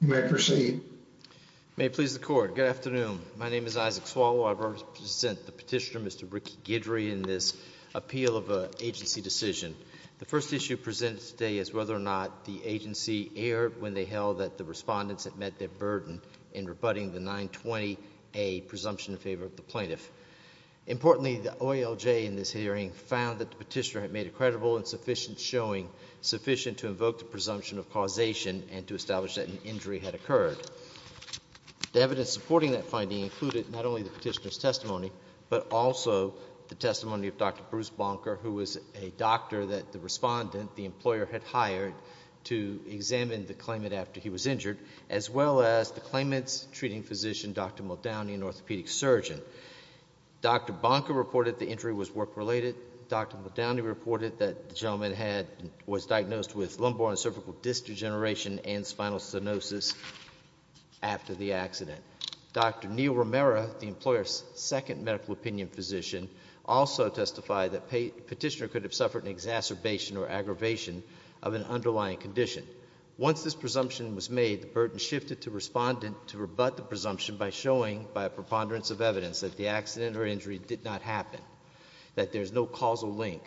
You may proceed. May it please the court. Good afternoon. My name is Isaac Swalwell. I represent the petitioner, Mr. Ricky Guidry, in this appeal of an agency decision. The first issue presented today is whether or not the agency erred when they held that the respondents had met their burden in rebutting the 920A presumption in favor of the plaintiff. Importantly, the OALJ in this hearing found that the petitioner had made a credible and sufficient showing, sufficient to invoke the presumption of causation and to establish that an injury had occurred. The evidence supporting that finding included not only the petitioner's testimony, but also the testimony of Dr. Bruce Bonker, who was a doctor that the respondent, the employer, had hired to examine the claimant after he was injured, as well as the claimant's treating physician, Dr. Muldowney, an orthopedic surgeon. Dr. Bonker reported the injury was work-related. Dr. Muldowney reported that the gentleman was diagnosed with lumbar and cervical disc degeneration and spinal stenosis after the accident. Dr. Neil Romero, the employer's second medical opinion physician, also testified that the petitioner could have suffered an exacerbation or aggravation of an underlying condition. Once this presumption was made, the burden shifted to the respondent to rebut the presumption by showing, by a preponderance of evidence, that the accident or injury did not happen, that there is no causal link.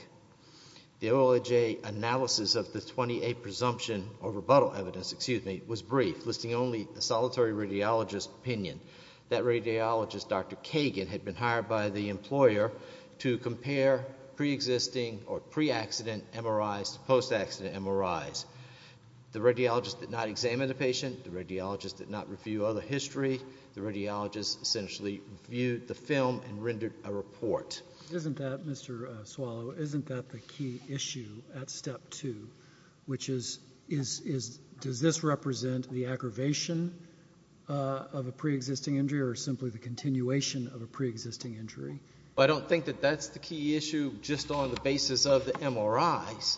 The OALJ analysis of the 920A presumption or rebuttal evidence, excuse me, was brief, listing only a solitary radiologist's opinion. That radiologist, Dr. Kagan, had been hired by the employer to compare pre-existing or underlying conditions. The radiologist did not examine the patient. The radiologist did not review other history. The radiologist essentially reviewed the film and rendered a report. Isn't that, Mr. Swallow, isn't that the key issue at Step 2, which is, does this represent the aggravation of a pre-existing injury or simply the continuation of a pre-existing injury? I don't think that that's the key issue just on the basis of the MRIs.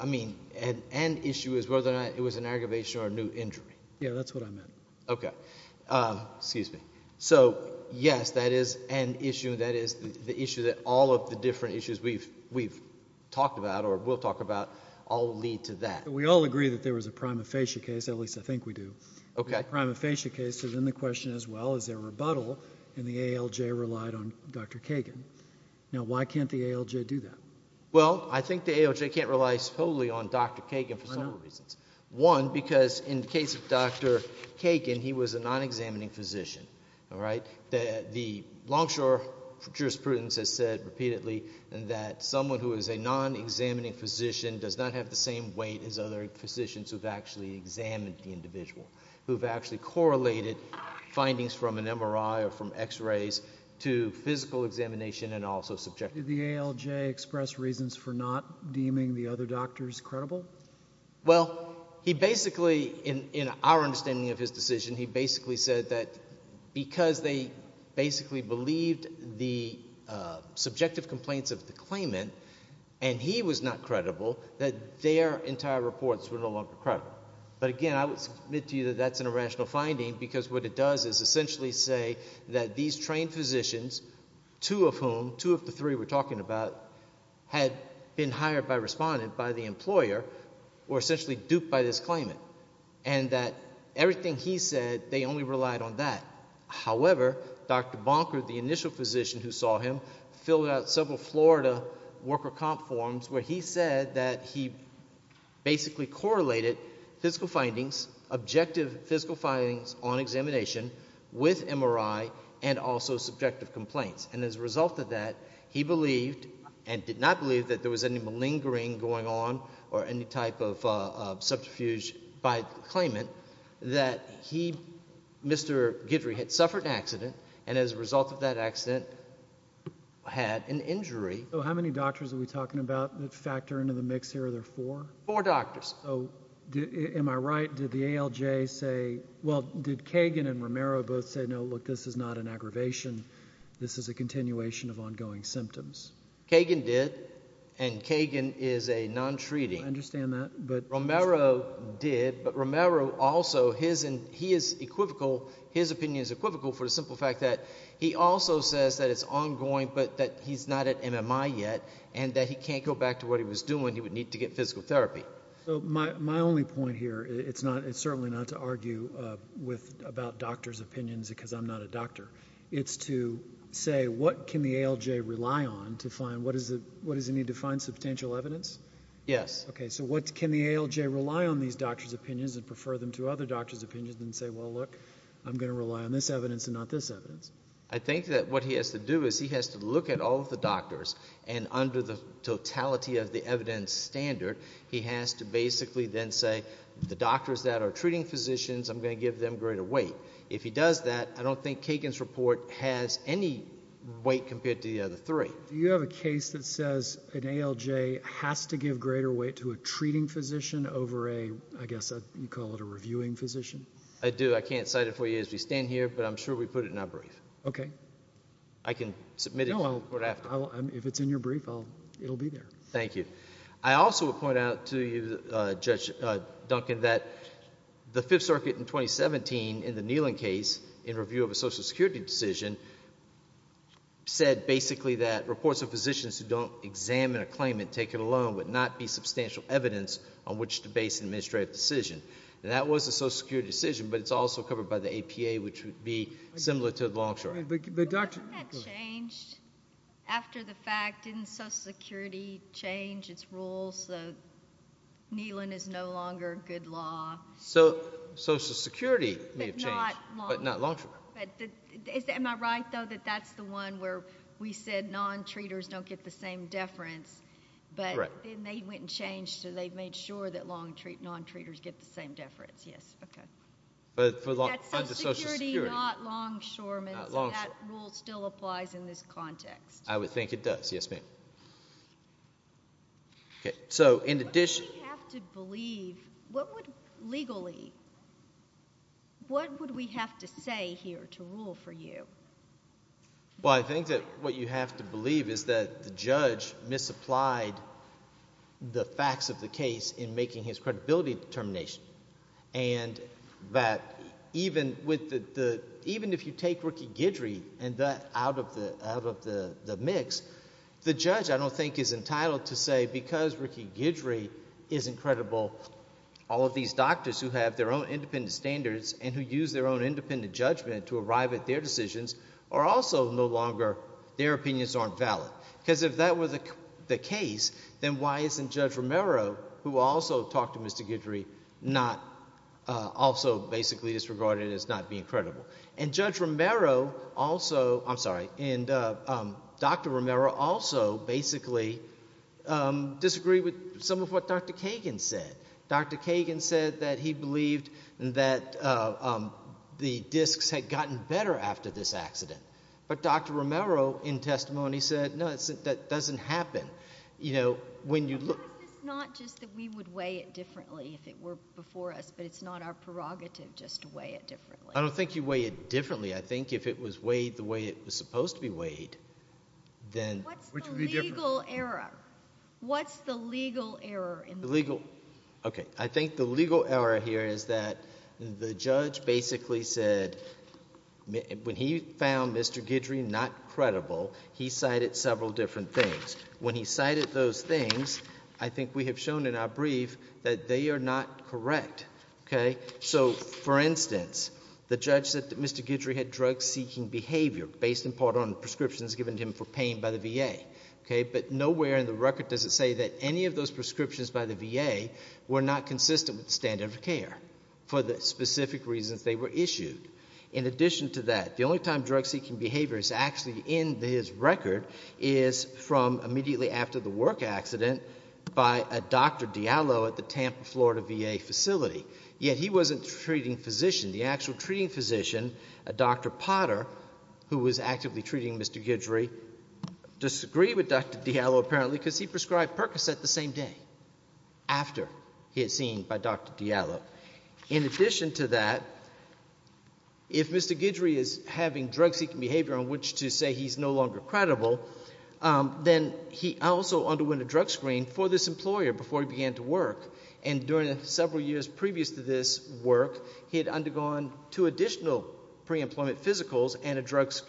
I mean, the key and end issue is whether or not it was an aggravation or a new injury. Yeah, that's what I meant. Okay. Excuse me. So, yes, that is an issue. That is the issue that all of the different issues we've talked about or will talk about all lead to that. We all agree that there was a prima facie case, at least I think we do. Okay. The prima facie case is in the question as well, is there a rebuttal, and the AALJ relied on Dr. Kagan. Now, why can't the AALJ do that? Well, I think the AALJ can't rely solely on Dr. Kagan for several reasons. One, because in the case of Dr. Kagan, he was a non-examining physician, all right? The Longshore jurisprudence has said repeatedly that someone who is a non-examining physician does not have the same weight as other physicians who've actually examined the individual, who've actually correlated findings from an MRI or from x-rays to physical examination and also subject to the... Did the AALJ express reasons for not deeming the other doctors credible? Well, he basically, in our understanding of his decision, he basically said that because they basically believed the subjective complaints of the claimant and he was not credible, that their entire reports were no longer credible. But again, I would submit to you that that's an irrational finding because what it does is essentially say that these trained physicians, two of whom, two of the three we're talking about, had been hired by respondent by the employer or essentially duped by this claimant and that everything he said, they only relied on that. However, Dr. Bonker, the initial physician who saw him, filled out several Florida worker comp forms where he said that he basically correlated physical findings, objective physical findings on examination with MRI and also subjective complaints. And as a result of that, he believed and did not believe that there was any malingering going on or any type of subterfuge by the claimant, that he, Mr. Guidry, had suffered an accident and as a result of that accident, had an injury. So how many doctors are we talking about that factor into the mix here? Are there four? Four doctors. So am I right? Did the ALJ say, well, did Kagan and Romero both say, no, look, this is not an aggravation, this is a continuation of ongoing symptoms? Kagan did. And Kagan is a non-treating. I understand that, but... Romero did, but Romero also, he is equivocal, his opinion is equivocal for the simple fact that he also says that it's ongoing, but that he's not at MMI yet and that he can't go back to what he was doing, he would need to get physical therapy. So my only point here, it's certainly not to argue about doctors' opinions because I'm not a doctor, it's to say, what can the ALJ rely on to find, what does it need to find substantial evidence? Yes. Okay, so what, can the ALJ rely on these doctors' opinions and prefer them to other doctors' opinions and say, well, look, I'm going to rely on this evidence and not this evidence? I think that what he has to do is he has to look at all of the doctors and under the totality of the evidence standard, he has to basically then say, the doctors that are treating physicians, I'm going to give them greater weight. If he does that, I don't think Kagan's report has any weight compared to the other three. Do you have a case that says an ALJ has to give greater weight to a treating physician over a, I guess you call it a reviewing physician? I do, I can't cite it for you as we stand here, but I'm sure we put it in our brief. I can submit it to you. No, if it's in your brief, it'll be there. Thank you. I also would point out to you, Judge Duncan, that the Fifth Circuit in 2017 in the Nehling case, in review of a Social Security decision, said basically that reports of physicians who don't examine a claimant, take it alone, would not be substantial evidence on which to base an administrative decision. And that was a Social Security decision, but it's also covered by the APA, which would be similar to the Longshore. But wouldn't that change after the fact? Didn't Social Security change its rules so Nehling is no longer good law? So Social Security may have changed, but not Longshore. Am I right, though, that that's the one where we said non-treaters don't get the same deference, but then they went and changed so they made sure that non-treaters get the same deference? Yes, okay. That's Social Security, not Longshore, and that rule still applies in this context. I would think it does, yes ma'am. So in addition— What would we have to believe, what would, legally, what would we have to say here to rule for you? Well, I think that what you have to believe is that the judge misapplied the facts of the case in making his credibility determination. And that even if you take Ricky Guidry out of the mix, the judge, I don't think, is entitled to say, because Ricky Guidry isn't credible, all of these doctors who have their own independent standards and who use their own independent judgment to arrive at their decisions are also no longer, their opinions aren't valid. Because if that were the case, then why isn't Judge Romero, who also talked to Mr. Guidry, not also basically disregarding it as not being credible? And Judge Romero also, I'm sorry, and Dr. Romero also basically disagreed with some of what Dr. Kagan said. Dr. Kagan said that he believed that the disks had gotten better after this accident. But Dr. Romero, in testimony, said, no, that doesn't happen. You know, when you look- But why is this not just that we would weigh it differently if it were before us, but it's not our prerogative just to weigh it differently? I don't think you weigh it differently. I think if it was weighed the way it was supposed to be weighed, then- What's the legal error? What's the legal error in that? The legal, okay. I think the legal error here is that the judge basically said, when he found Mr. Guidry not credible, he cited several different things. When he cited those things, I think we have shown in our brief that they are not correct, okay? So, for instance, the judge said that Mr. Guidry had drug-seeking behavior based in part on prescriptions given to him for pain by the VA, okay? But nowhere in the record does it say that any of those prescriptions by the VA were not consistent with the standard of care for the specific reasons they were issued. In addition to that, the only time drug-seeking behavior is actually in his record is from immediately after the work accident by a Dr. Diallo at the Tampa, Florida, VA facility. Yet he wasn't the treating physician. The actual treating physician, Dr. Potter, who was actively treating Mr. Guidry, disagreed with Dr. Diallo, apparently, because he prescribed Percocet the same day, after he had seen by Dr. Diallo. In addition to that, if Mr. Guidry is having drug-seeking behavior on which to say he's no longer credible, then he also underwent a drug screen for this employer before he began to work, and during the several years previous to this work, he had undergone two additional pre-employment physicals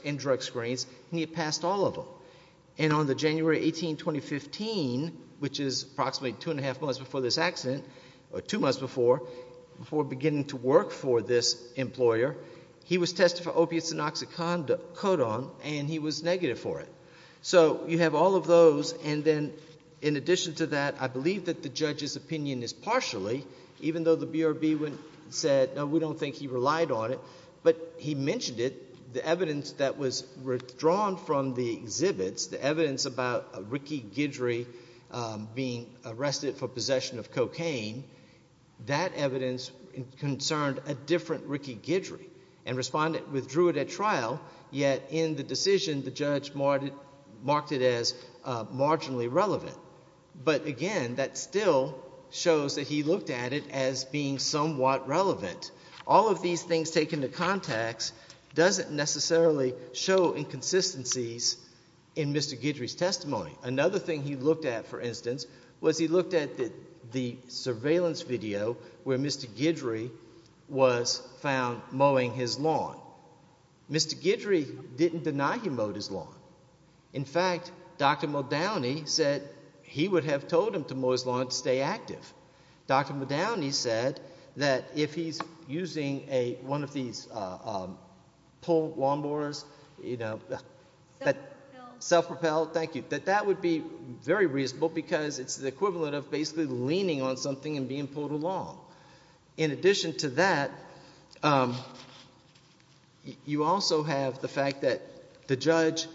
and drug screens, and he had passed all of them. And on the January 18, 2015, which is approximately two and a half months before this accident, or two months before, before beginning to work for this employer, he was tested for opiates and oxycodone, and he was negative for it. So you have all of those, and then in addition to that, I believe that the judge's opinion is partially, even though the BRB said, no, we don't think he relied on it, but he mentioned it, the evidence that was withdrawn from the exhibits, the evidence about Ricky Guidry being arrested for possession of cocaine, that evidence concerned a different Ricky Guidry, and responded, withdrew it at trial, yet in the decision, the judge marked it as marginally relevant. But again, that still shows that he looked at it as being somewhat relevant. All of these things taken into context doesn't necessarily show inconsistencies in Mr. Guidry's testimony. Another thing he looked at, for instance, was he looked at the surveillance video where Mr. Guidry was found mowing his lawn. Mr. Guidry didn't deny he mowed his lawn. In fact, Dr. Modowney said he would have told him to mow his lawn to stay active. Dr. Modowney said that if he's using one of these pull lawn mowers, you know, that self-propelled, thank you, that that would be very reasonable because it's the equivalent of basically leaning on something and being pulled along. In addition to that, you also have the fact that the judge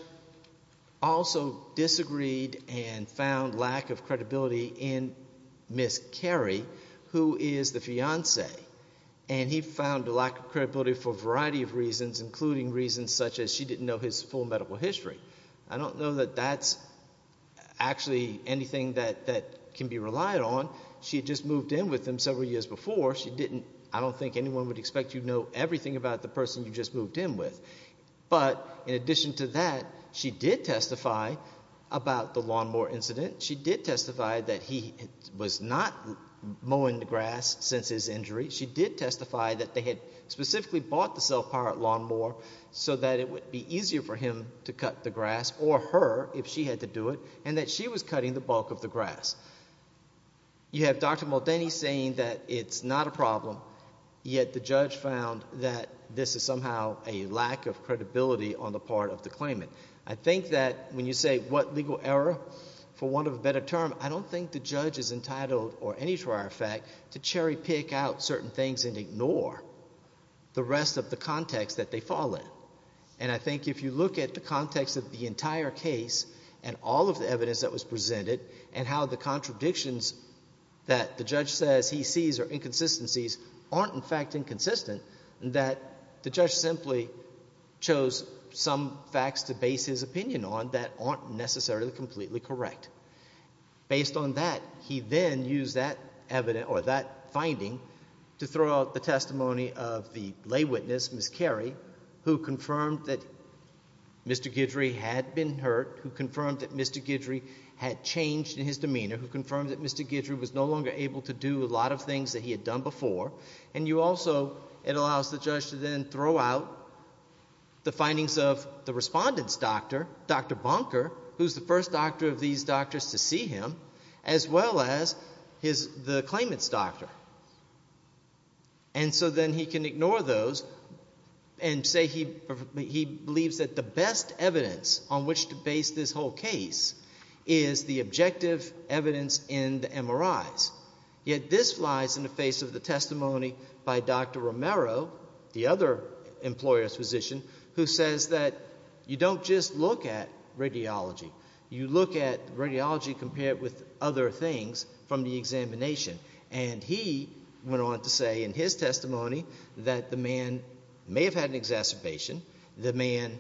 also disagreed and found lack of credibility in Ms. Carey, who is the fiancee. And he found a lack of credibility for a variety of reasons, including reasons such as she didn't know his full medical history. I don't know that that's actually anything that can be relied on. She had just moved in with him several years before. She didn't, I don't think anyone would expect you to know everything about the person you just moved in with. But in addition to that, she did testify about the lawn mower incident. She did testify that he was not mowing the grass since his injury. She did testify that they had specifically bought the self-powered lawn mower so that it would be easier for him to cut the grass, or her if she had to do it, and that she was cutting the bulk of the grass. You have Dr. Modowney saying that it's not a problem, yet the judge found that this is somehow a lack of credibility on the part of the claimant. I think that when you say what legal error, for want of a better term, I don't think the judge is entitled, or any trial fact, to cherry pick out certain things and ignore the rest of the context that they fall in. And I think if you look at the context of the entire case, and all of the evidence that was presented, and how the contradictions that the judge says he sees, or inconsistencies aren't in fact inconsistent, that the judge simply chose some facts to base his opinion on that aren't necessarily completely correct. Based on that, he then used that finding to throw out the testimony of the lay witness, Ms. Carey, who confirmed that Mr. Guidry had been hurt, who confirmed that Mr. Guidry had changed in his demeanor, who confirmed that Mr. Guidry was no longer able to do a lot of things that he had done before, and you also, it allows the judge to then throw out the findings of the respondent's doctor, Dr. Bonker, who's the first doctor of these doctors to see him, as well as the claimant's doctor. And so then he can ignore those, and say he believes that the best evidence on which to base this whole case is the objective evidence in the MRIs. Yet this lies in the face of the testimony by Dr. Romero, the other employer's physician, who says that you don't just look at radiology, you look at radiology compared with other things from the examination, and he went on to say in his testimony that the man may have had an exacerbation, the man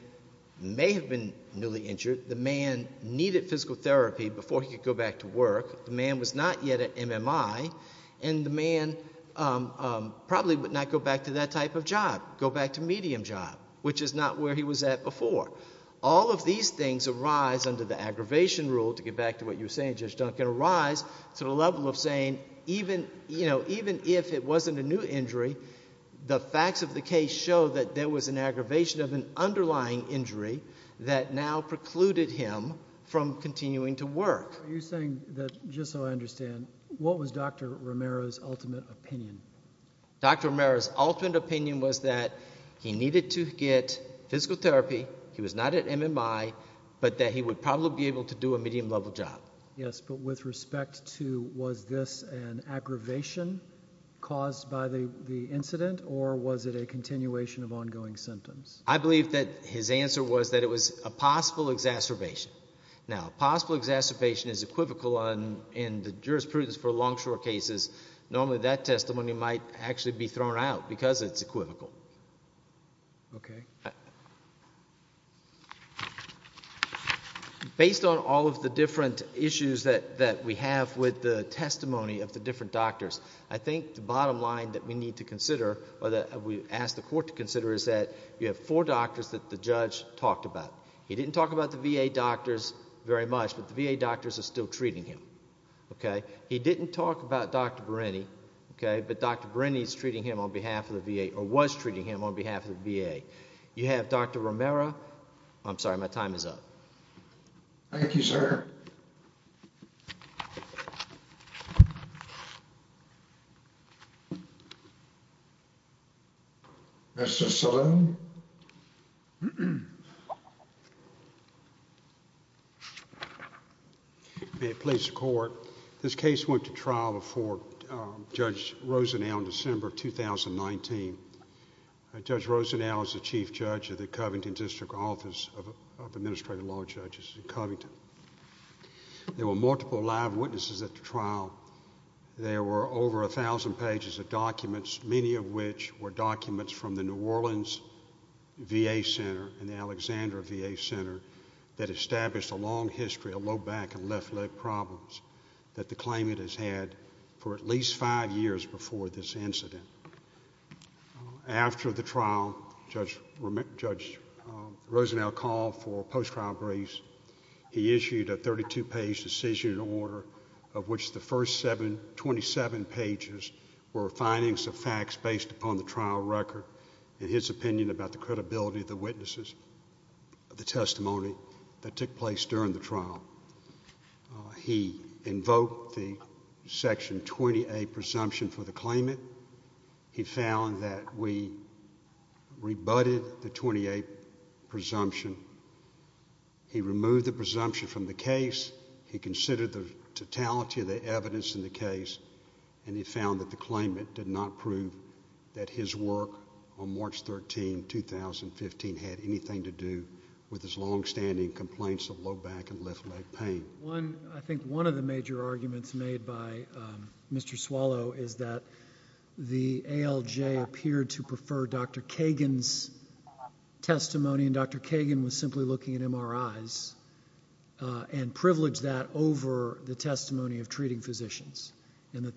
may have been newly injured, the man needed physical therapy before he could go back to work, the man was not yet at MMI, and the man probably would not go back to that type of job, go back to medium job, which is not where he was at before. All of these things arise under the aggravation rule, to get back to what you were saying, Judge Duncan, arise to the level of saying even if it wasn't a new injury, the facts of the case show that there was an aggravation of an underlying injury that now precluded him from continuing to work. Are you saying that, just so I understand, what was Dr. Romero's ultimate opinion? Dr. Romero's ultimate opinion was that he needed to get physical therapy, he was not at MMI, but that he would probably be able to do a medium level job. Yes, but with respect to was this an aggravation caused by the incident, or was it a continuation of ongoing symptoms? I believe that his answer was that it was a possible exacerbation. Now, a possible exacerbation is equivocal in the jurisprudence for long-short cases. Normally that testimony might actually be thrown out because it's equivocal. Based on all of the different issues that we have with the testimony of the different doctors, I think the bottom line that we need to consider, or that we ask the court to consider, is that you have four doctors that the judge talked about. He didn't talk about the VA doctors very much, but the VA doctors are still treating him. He didn't talk about Dr. Bereni, but Dr. Bereni is treating him on behalf of the VA, or was treating him on behalf of the VA. You have Dr. Romero. I'm sorry, my time is up. Thank you, sir. Mr. Salone? May it please the court. This case went to trial before Judge Rosenau in December of 2019. Judge Rosenau is the chief judge of the Covington District Office of Administrative Law Judges in Covington. There were multiple live witnesses at the trial. There were over 1,000 pages of documents, many of which were documents from the New Orleans VA Center and the Alexander VA Center that established a long history of low back and left leg problems that the claimant has had for at least five years before this incident. After the trial, Judge Rosenau called for a post-trial briefs. He issued a 32-page decision order, of which the first 27 pages were findings of facts based upon the trial record and his opinion about the credibility of the witnesses, the trial. He invoked the Section 28 presumption for the claimant. He found that we rebutted the 28 presumption. He removed the presumption from the case. He considered the totality of the evidence in the case, and he found that the claimant did not prove that his work on March 13, 2015, had anything to do with his longstanding complaints of low back and left leg pain. I think one of the major arguments made by Mr. Swallow is that the ALJ appeared to prefer Dr. Kagan's testimony, and Dr. Kagan was simply looking at MRIs, and privileged that over the testimony of treating physicians, and that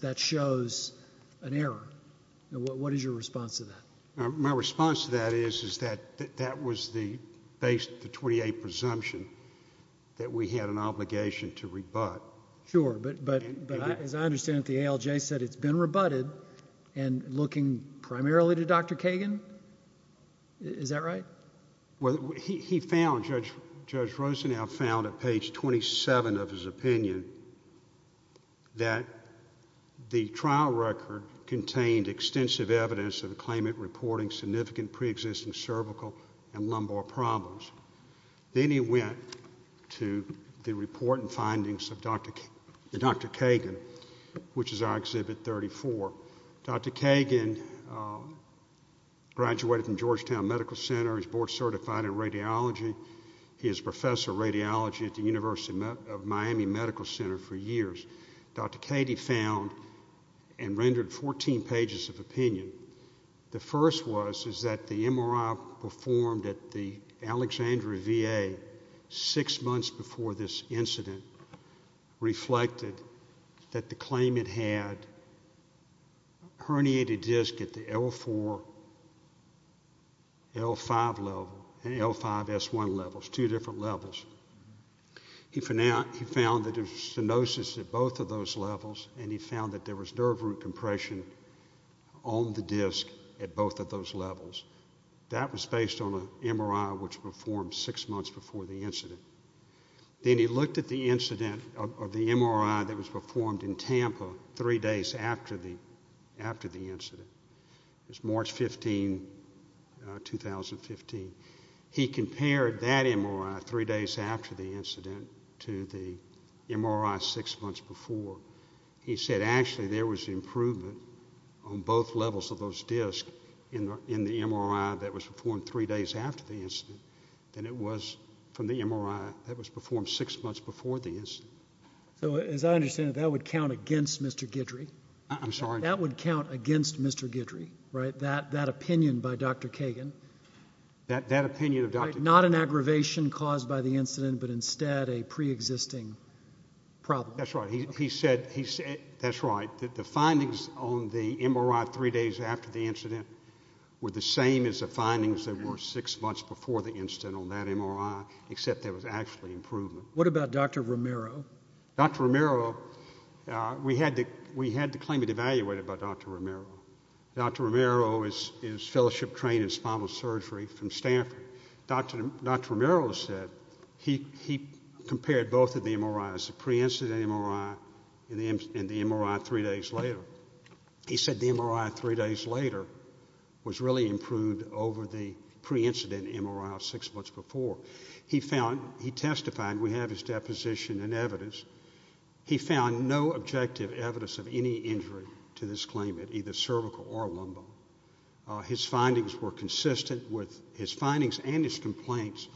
that shows an error. What is your response to that? My response to that is that that was the base of the 28 presumption, that we had an obligation to rebut. Sure, but as I understand it, the ALJ said it's been rebutted, and looking primarily to Dr. Kagan? Is that right? He found, Judge Rosenau found at page 27 of his opinion, that the trial record contained extensive evidence of the claimant reporting significant pre-existing cervical and lumbar problems. Then he went to the report and findings of Dr. Kagan, which is our Exhibit 34. Dr. Kagan graduated from Georgetown Medical Center, he's board certified in radiology, he is professor of radiology at the University of Miami Medical Center for years. Dr. Kagan found and rendered 14 pages of opinion. The first was, is that the MRI performed at the Alexandria VA, six months before this incident reflected that the claimant had herniated disc at the L4, L5 level, and L5S1 levels, two different levels. He found that there was stenosis at both of those levels, and he found that there was nerve root compression on the disc at both of those levels. That was based on an MRI which was performed six months before the incident. Then he looked at the incident of the MRI that was performed in Tampa, three days after the incident, it was March 15, 2015. He compared that MRI three days after the incident to the MRI six months before. He said actually there was improvement on both levels of those discs in the MRI that was performed three days after the incident than it was from the MRI that was performed six months before the incident. So as I understand it, that would count against Mr. Guidry? I'm sorry? That would count against Mr. Guidry, right? That opinion by Dr. Kagan? That opinion of Dr. Kagan. Not an aggravation caused by the incident, but instead a pre-existing problem. That's right. He said, that's right, that the findings on the MRI three days after the incident were the same as the findings that were six months before the incident on that MRI, except there was actually improvement. What about Dr. Romero? Dr. Romero, we had the claimant evaluated by Dr. Romero. Dr. Romero is fellowship trained in spinal surgery from Stanford. Dr. Romero said he compared both of the MRIs, the pre-incident MRI and the MRI three days later. He said the MRI three days later was really improved over the pre-incident MRI six months before. He found, he testified, we have his deposition and evidence, he found no objective evidence of any injury to this claimant, either cervical or lumbar. His findings were consistent with, his findings and his complaints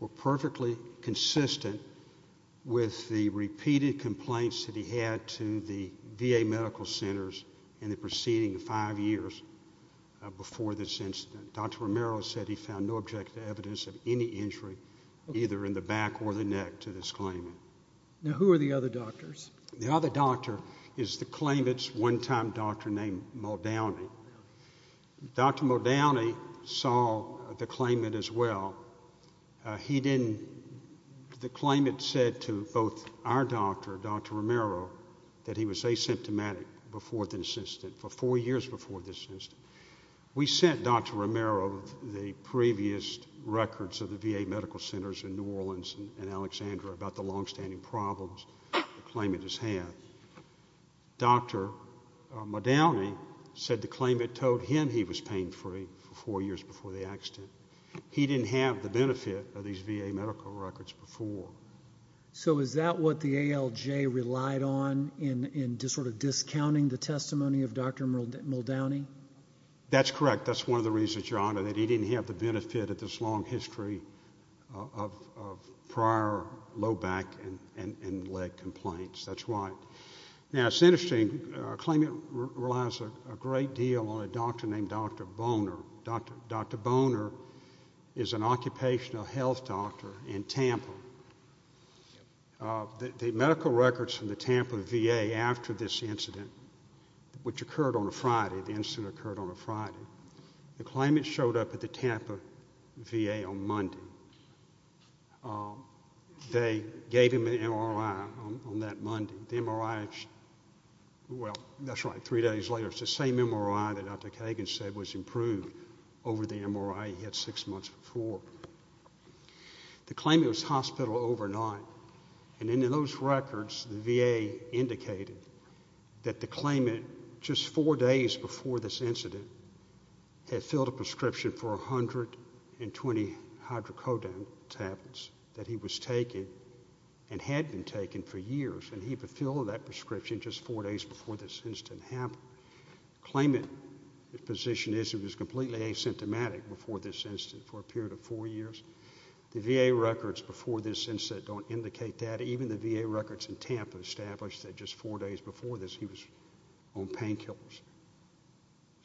were perfectly consistent with the repeated complaints that he had to the VA medical centers in the preceding five years before this incident. Dr. Romero said he found no objective evidence of any injury, either in the back or the neck to this claimant. Now, who are the other doctors? The other doctor is the claimant's one-time doctor named Muldowney. Dr. Muldowney saw the claimant as well. He didn't, the claimant said to both our doctor, Dr. Romero, that he was asymptomatic before this incident, for four years before this incident. We sent Dr. Romero the previous records of the VA medical centers in New Orleans and we sent them to Dr. Muldowney. Dr. Muldowney said the claimant told him he was pain-free four years before the accident. He didn't have the benefit of these VA medical records before. So is that what the ALJ relied on in sort of discounting the testimony of Dr. Muldowney? That's correct. That's one of the reasons, Your Honor, that he didn't have the benefit of this long history of prior low back and leg complaints. That's why. Now, it's interesting. A claimant relies a great deal on a doctor named Dr. Boner. Dr. Boner is an occupational health doctor in Tampa. The medical records from the Tampa VA after this incident, which occurred on a Friday, the incident occurred on a Friday. The claimant showed up at the Tampa VA on Monday. They gave him an MRI on that Monday. The MRI, well, that's right, three days later, it's the same MRI that Dr. Kagan said was improved over the MRI he had six months before. The claimant was hospital overnight and in those records, the VA indicated that the claimant just four days before this incident had filled a prescription for 120 hydrocodone tablets that he was taking and had been taking for years, and he filled that prescription just four days before this incident happened. Claimant's position is he was completely asymptomatic before this incident for a period of four years. The VA records before this incident don't indicate that. Even the VA records in Tampa establish that just four days before this, he was on painkillers.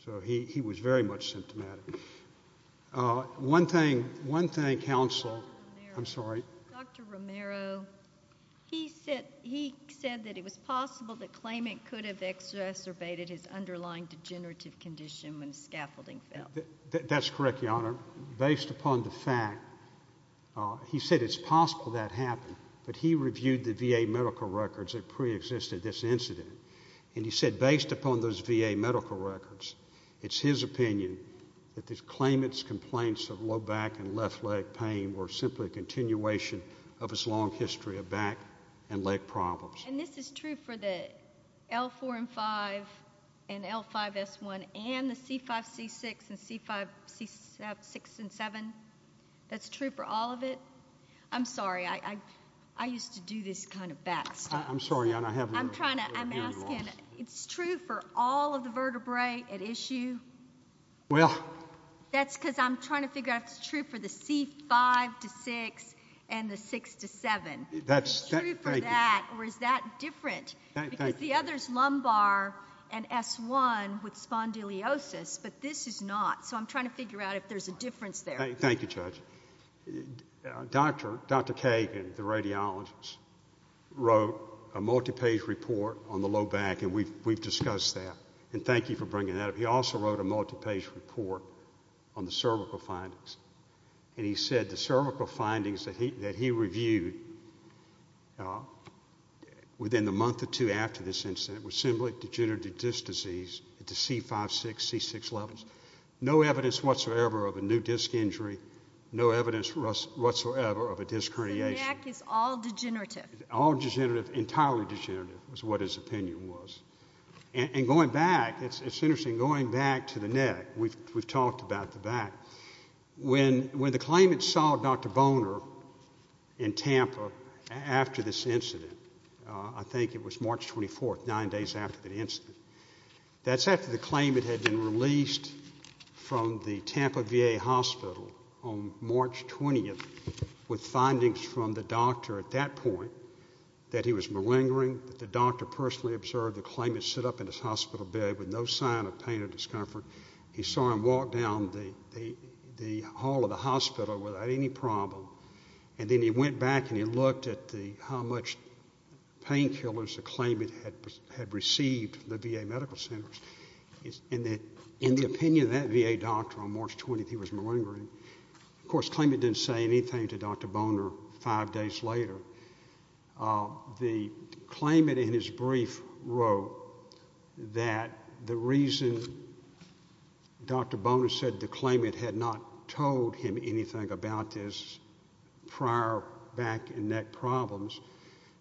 So he was very much symptomatic. One thing, one thing, counsel, I'm sorry. Dr. Romero, he said that it was possible that claimant could have exacerbated his underlying degenerative condition when scaffolding fell. That's correct, Your Honor. Based upon the fact, he said it's possible that happened, but he reviewed the VA medical records that preexisted this incident, and he said based upon those VA medical records, it's his opinion that the claimant's complaints of low back and left leg pain were simply a continuation of his long history of back and leg problems. And this is true for the L4 and 5 and L5S1 and the C5, C6 and C5, C6 and 7? That's true for all of it? I'm sorry. I used to do this kind of back stuff. I'm sorry, Your Honor. I have no hearing loss. I'm trying to, I'm asking. It's true for all of the vertebrae at issue? Well. That's because I'm trying to figure out if it's true for the C5 to 6 and the 6 to 7. Is it true for that, or is that different? Because the other's lumbar and S1 with spondylosis, but this is not. So I'm trying to figure out if there's a difference there. Thank you, Judge. Dr. Kagan, the radiologist, wrote a multi-page report on the low back, and we've discussed that, and thank you for bringing that up. He also wrote a multi-page report on the cervical findings, and he said the cervical findings that he reviewed within the month or two after this incident were similar to degenerative disc disease at the C5, 6, C6 levels. No evidence whatsoever of a new disc injury. No evidence whatsoever of a disc herniation. So the neck is all degenerative? All degenerative, entirely degenerative, is what his opinion was. And going back, it's interesting, going back to the neck, we've talked about the back. When the claimant saw Dr. Boner in Tampa after this incident, I think it was March 24th, nine days after the incident, that's after the claimant had been released from the Tampa VA Hospital on March 20th with findings from the doctor at that point that he was malingering, that the doctor personally observed the claimant sit up in his hospital bed with no sign of pain or discomfort. He saw him walk down the hall of the hospital without any problem, and then he went back and he looked at how much painkillers the claimant had received from the VA medical centers, and the opinion of that VA doctor on March 20th, he was malingering. Of course, the claimant didn't say anything to Dr. Boner five days later. The claimant in his brief wrote that the reason Dr. Boner said the claimant had not told him anything about this prior back and neck problems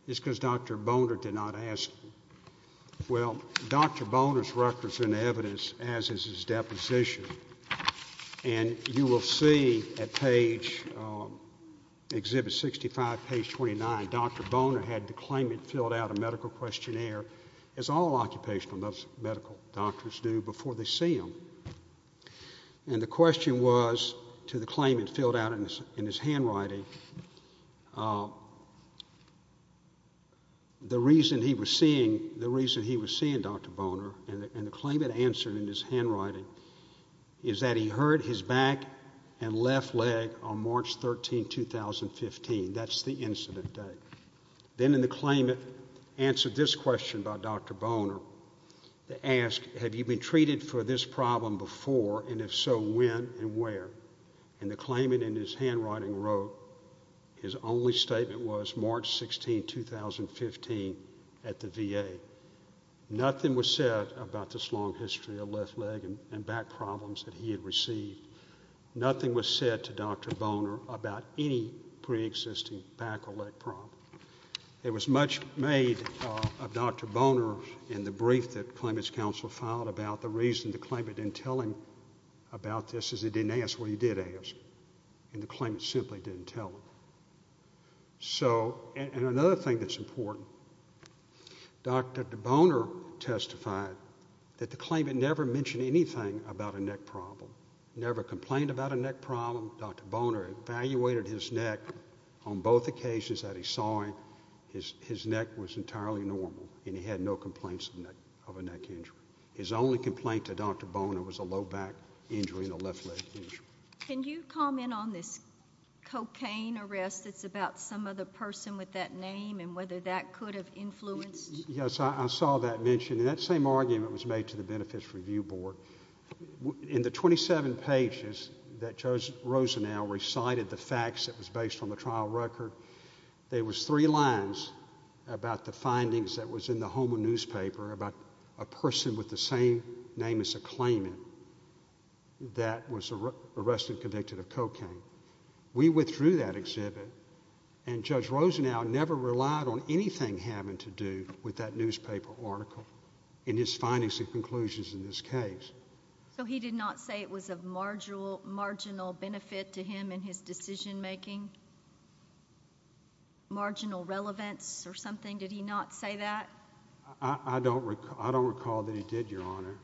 is because Dr. Boner did not ask him. Well, Dr. Boner's records and evidence, as is his deposition, and you will see at page, Exhibit 65, page 29, Dr. Boner had the claimant filled out a medical questionnaire, as all occupational medical doctors do, before they see him, and the question was to the claimant filled out in his handwriting, the reason he was seeing Dr. Boner and the claimant answered in his handwriting is that he hurt his back and left leg on March 13, 2015, that's the incident day. Then the claimant answered this question by Dr. Boner, they asked, have you been treated for this problem before, and if so, when and where, and the claimant in his handwriting wrote his only statement was March 16, 2015, at the VA. Nothing was said about this long history of left leg and back problems that he had received. Nothing was said to Dr. Boner about any pre-existing back or leg problem. It was much made of Dr. Boner in the brief that claimant's counsel filed about the reason the claimant didn't tell him about this is he didn't ask what he did ask, and the claimant simply didn't tell him. So, and another thing that's important, Dr. Boner testified that the claimant never mentioned anything about a neck problem, never complained about a neck problem, Dr. Boner evaluated his neck on both occasions that he saw him, his neck was entirely normal and he had no complaints of a neck injury. His only complaint to Dr. Boner was a low back injury and a left leg injury. Can you comment on this cocaine arrest that's about some other person with that name and whether that could have influenced? Yes, I saw that mentioned. That same argument was made to the Benefits Review Board. In the 27 pages that Judge Rosenau recited the facts that was based on the trial record, there was three lines about the findings that was in the home of newspaper about a person with the same name as the claimant that was arrested and convicted of cocaine. We withdrew that exhibit and Judge Rosenau never relied on anything having to do with that newspaper article in his findings and conclusions in this case. So he did not say it was of marginal benefit to him in his decision making? Marginal relevance or something, did he not say that? I don't recall that he did, Your Honor.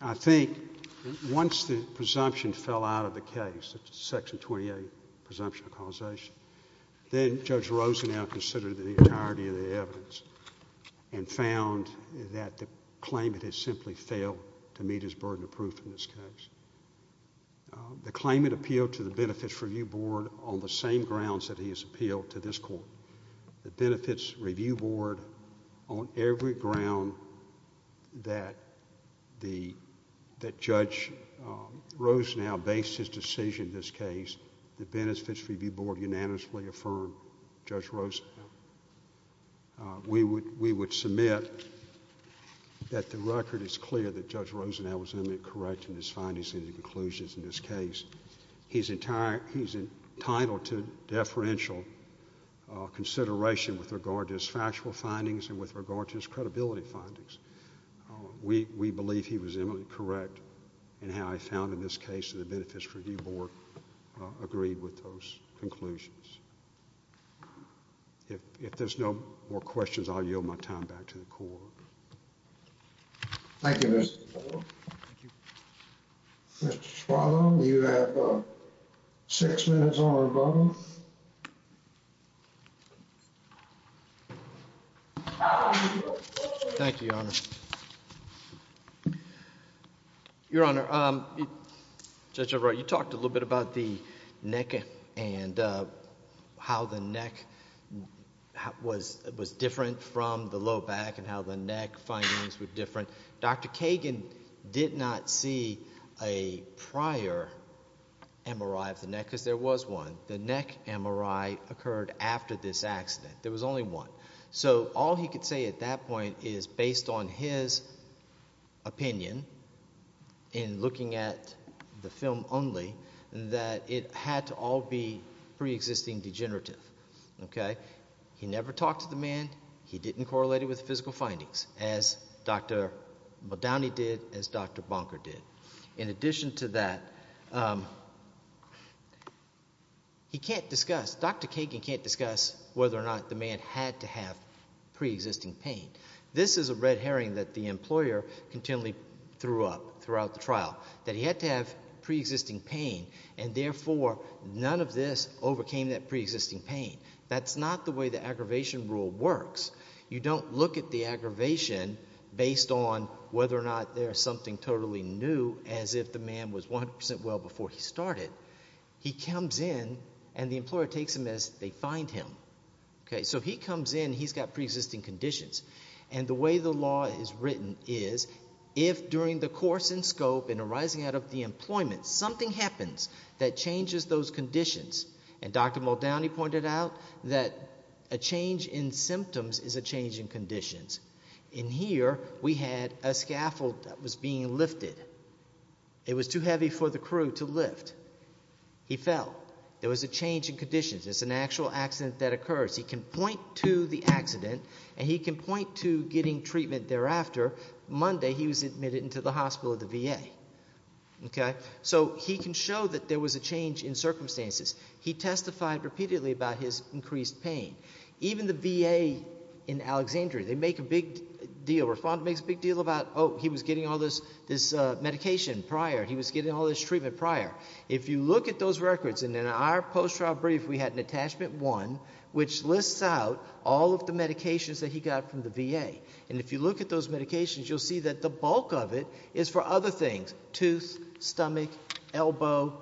I think once the presumption fell out of the case, Section 28 presumption of causation, then Judge Rosenau considered the entirety of the evidence and found that the claimant had simply failed to meet his burden of proof in this case. The claimant appealed to the Benefits Review Board on the same grounds that he has appealed to this court. The Benefits Review Board on every ground that Judge Rosenau based his decision in this case, the Benefits Review Board unanimously affirmed Judge Rosenau. We would submit that the record is clear that Judge Rosenau was in the correct in his findings and conclusions in this case. He's entitled to deferential consideration with regard to his factual findings and with regard to his credibility findings. We believe he was eminently correct in how he found in this case that the Benefits Review Board agreed with those conclusions. If there's no more questions, I'll yield my time back to the Court. Thank you, Mr. Moore. Thank you. Mr. Spaulding, you have six minutes on the button. Thank you, Your Honor. Your Honor, Judge Everett, you talked a little bit about the neck and how the neck was different from the low back and how the neck findings were different. Dr. Kagan did not see a prior MRI of the neck because there was one. The neck MRI occurred after this accident. There was only one. So all he could say at that point is, based on his opinion in looking at the film only, that it had to all be preexisting degenerative, okay? He never talked to the man. He didn't correlate it with physical findings as Dr. Modany did, as Dr. Bonker did. In addition to that, he can't discuss, Dr. Kagan can't discuss whether or not the man had to have preexisting pain. This is a red herring that the employer continually threw up throughout the trial, that he had to have preexisting pain and therefore none of this overcame that preexisting pain. That's not the way the aggravation rule works. You don't look at the aggravation based on whether or not there's something totally new as if the man was 100% well before he started. He comes in and the employer takes him as they find him, okay? So he comes in, he's got preexisting conditions. And the way the law is written is, if during the course and scope and arising out of the employment, something happens that changes those conditions. And Dr. Modany pointed out that a change in symptoms is a change in conditions. In here, we had a scaffold that was being lifted. It was too heavy for the crew to lift. He fell. There was a change in conditions. It's an actual accident that occurs. He can point to the accident and he can point to getting treatment thereafter. Monday, he was admitted into the hospital, the VA, okay? So he can show that there was a change in circumstances. He testified repeatedly about his increased pain. Even the VA in Alexandria, they make a big deal, Rafaun makes a big deal about, oh, he was getting all this medication prior. He was getting all this treatment prior. If you look at those records, and in our post-trial brief, we had an attachment one, which lists out all of the medications that he got from the VA. And if you look at those medications, you'll see that the bulk of it is for other things, teeth, stomach, elbow,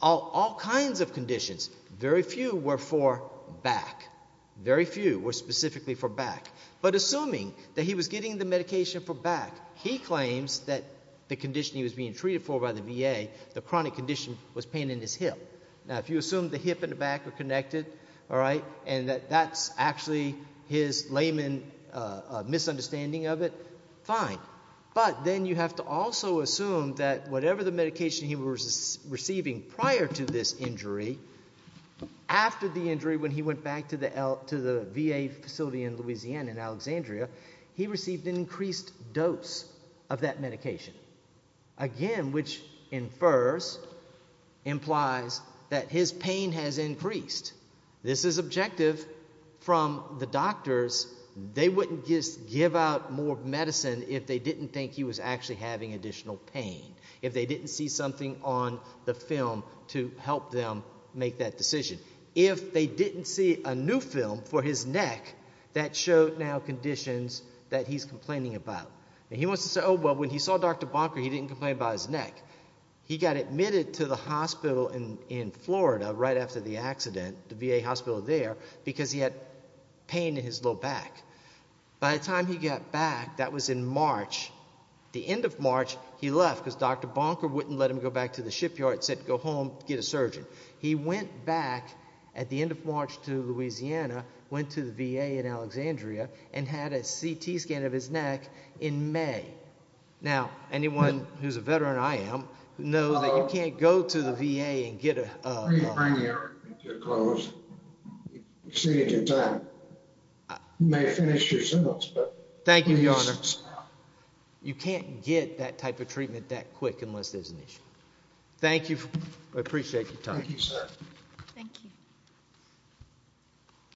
all kinds of conditions. Very few were for back. Very few were specifically for back. But assuming that he was getting the medication for back, he claims that the condition he was being treated for by the VA, the chronic condition, was pain in his hip. Now, if you assume the hip and the back are connected, all right, and that that's actually his layman misunderstanding of it, fine. But then you have to also assume that whatever the medication he was receiving prior to this injury, after the injury, when he went back to the VA facility in Louisiana, in Alexandria, he received an increased dose of that medication. Again, which infers, implies, that his pain has increased. This is objective from the doctors. They wouldn't just give out more medicine if they didn't think he was actually having additional pain, if they didn't see something on the film to help them make that decision. If they didn't see a new film for his neck, that showed now conditions that he's complaining about. And he wants to say, oh, well, when he saw Dr. Bonker, he didn't complain about his neck. He got admitted to the hospital in Florida right after the accident, the VA hospital there, because he had pain in his low back. By the time he got back, that was in March, the end of March, he left, because Dr. Bonker wouldn't let him go back to the shipyard, said, go home, get a surgeon. He went back at the end of March to Louisiana, went to the VA in Alexandria, and had a CT scan of his neck in May. Now, anyone who's a veteran, I am, knows that you can't go to the VA and get a lung. You're free to bring your clothes, extend your time. You may finish yourselves. Thank you, Your Honor. You can't get that type of treatment that quick unless there's an issue. Thank you. I appreciate your time. Thank you, sir.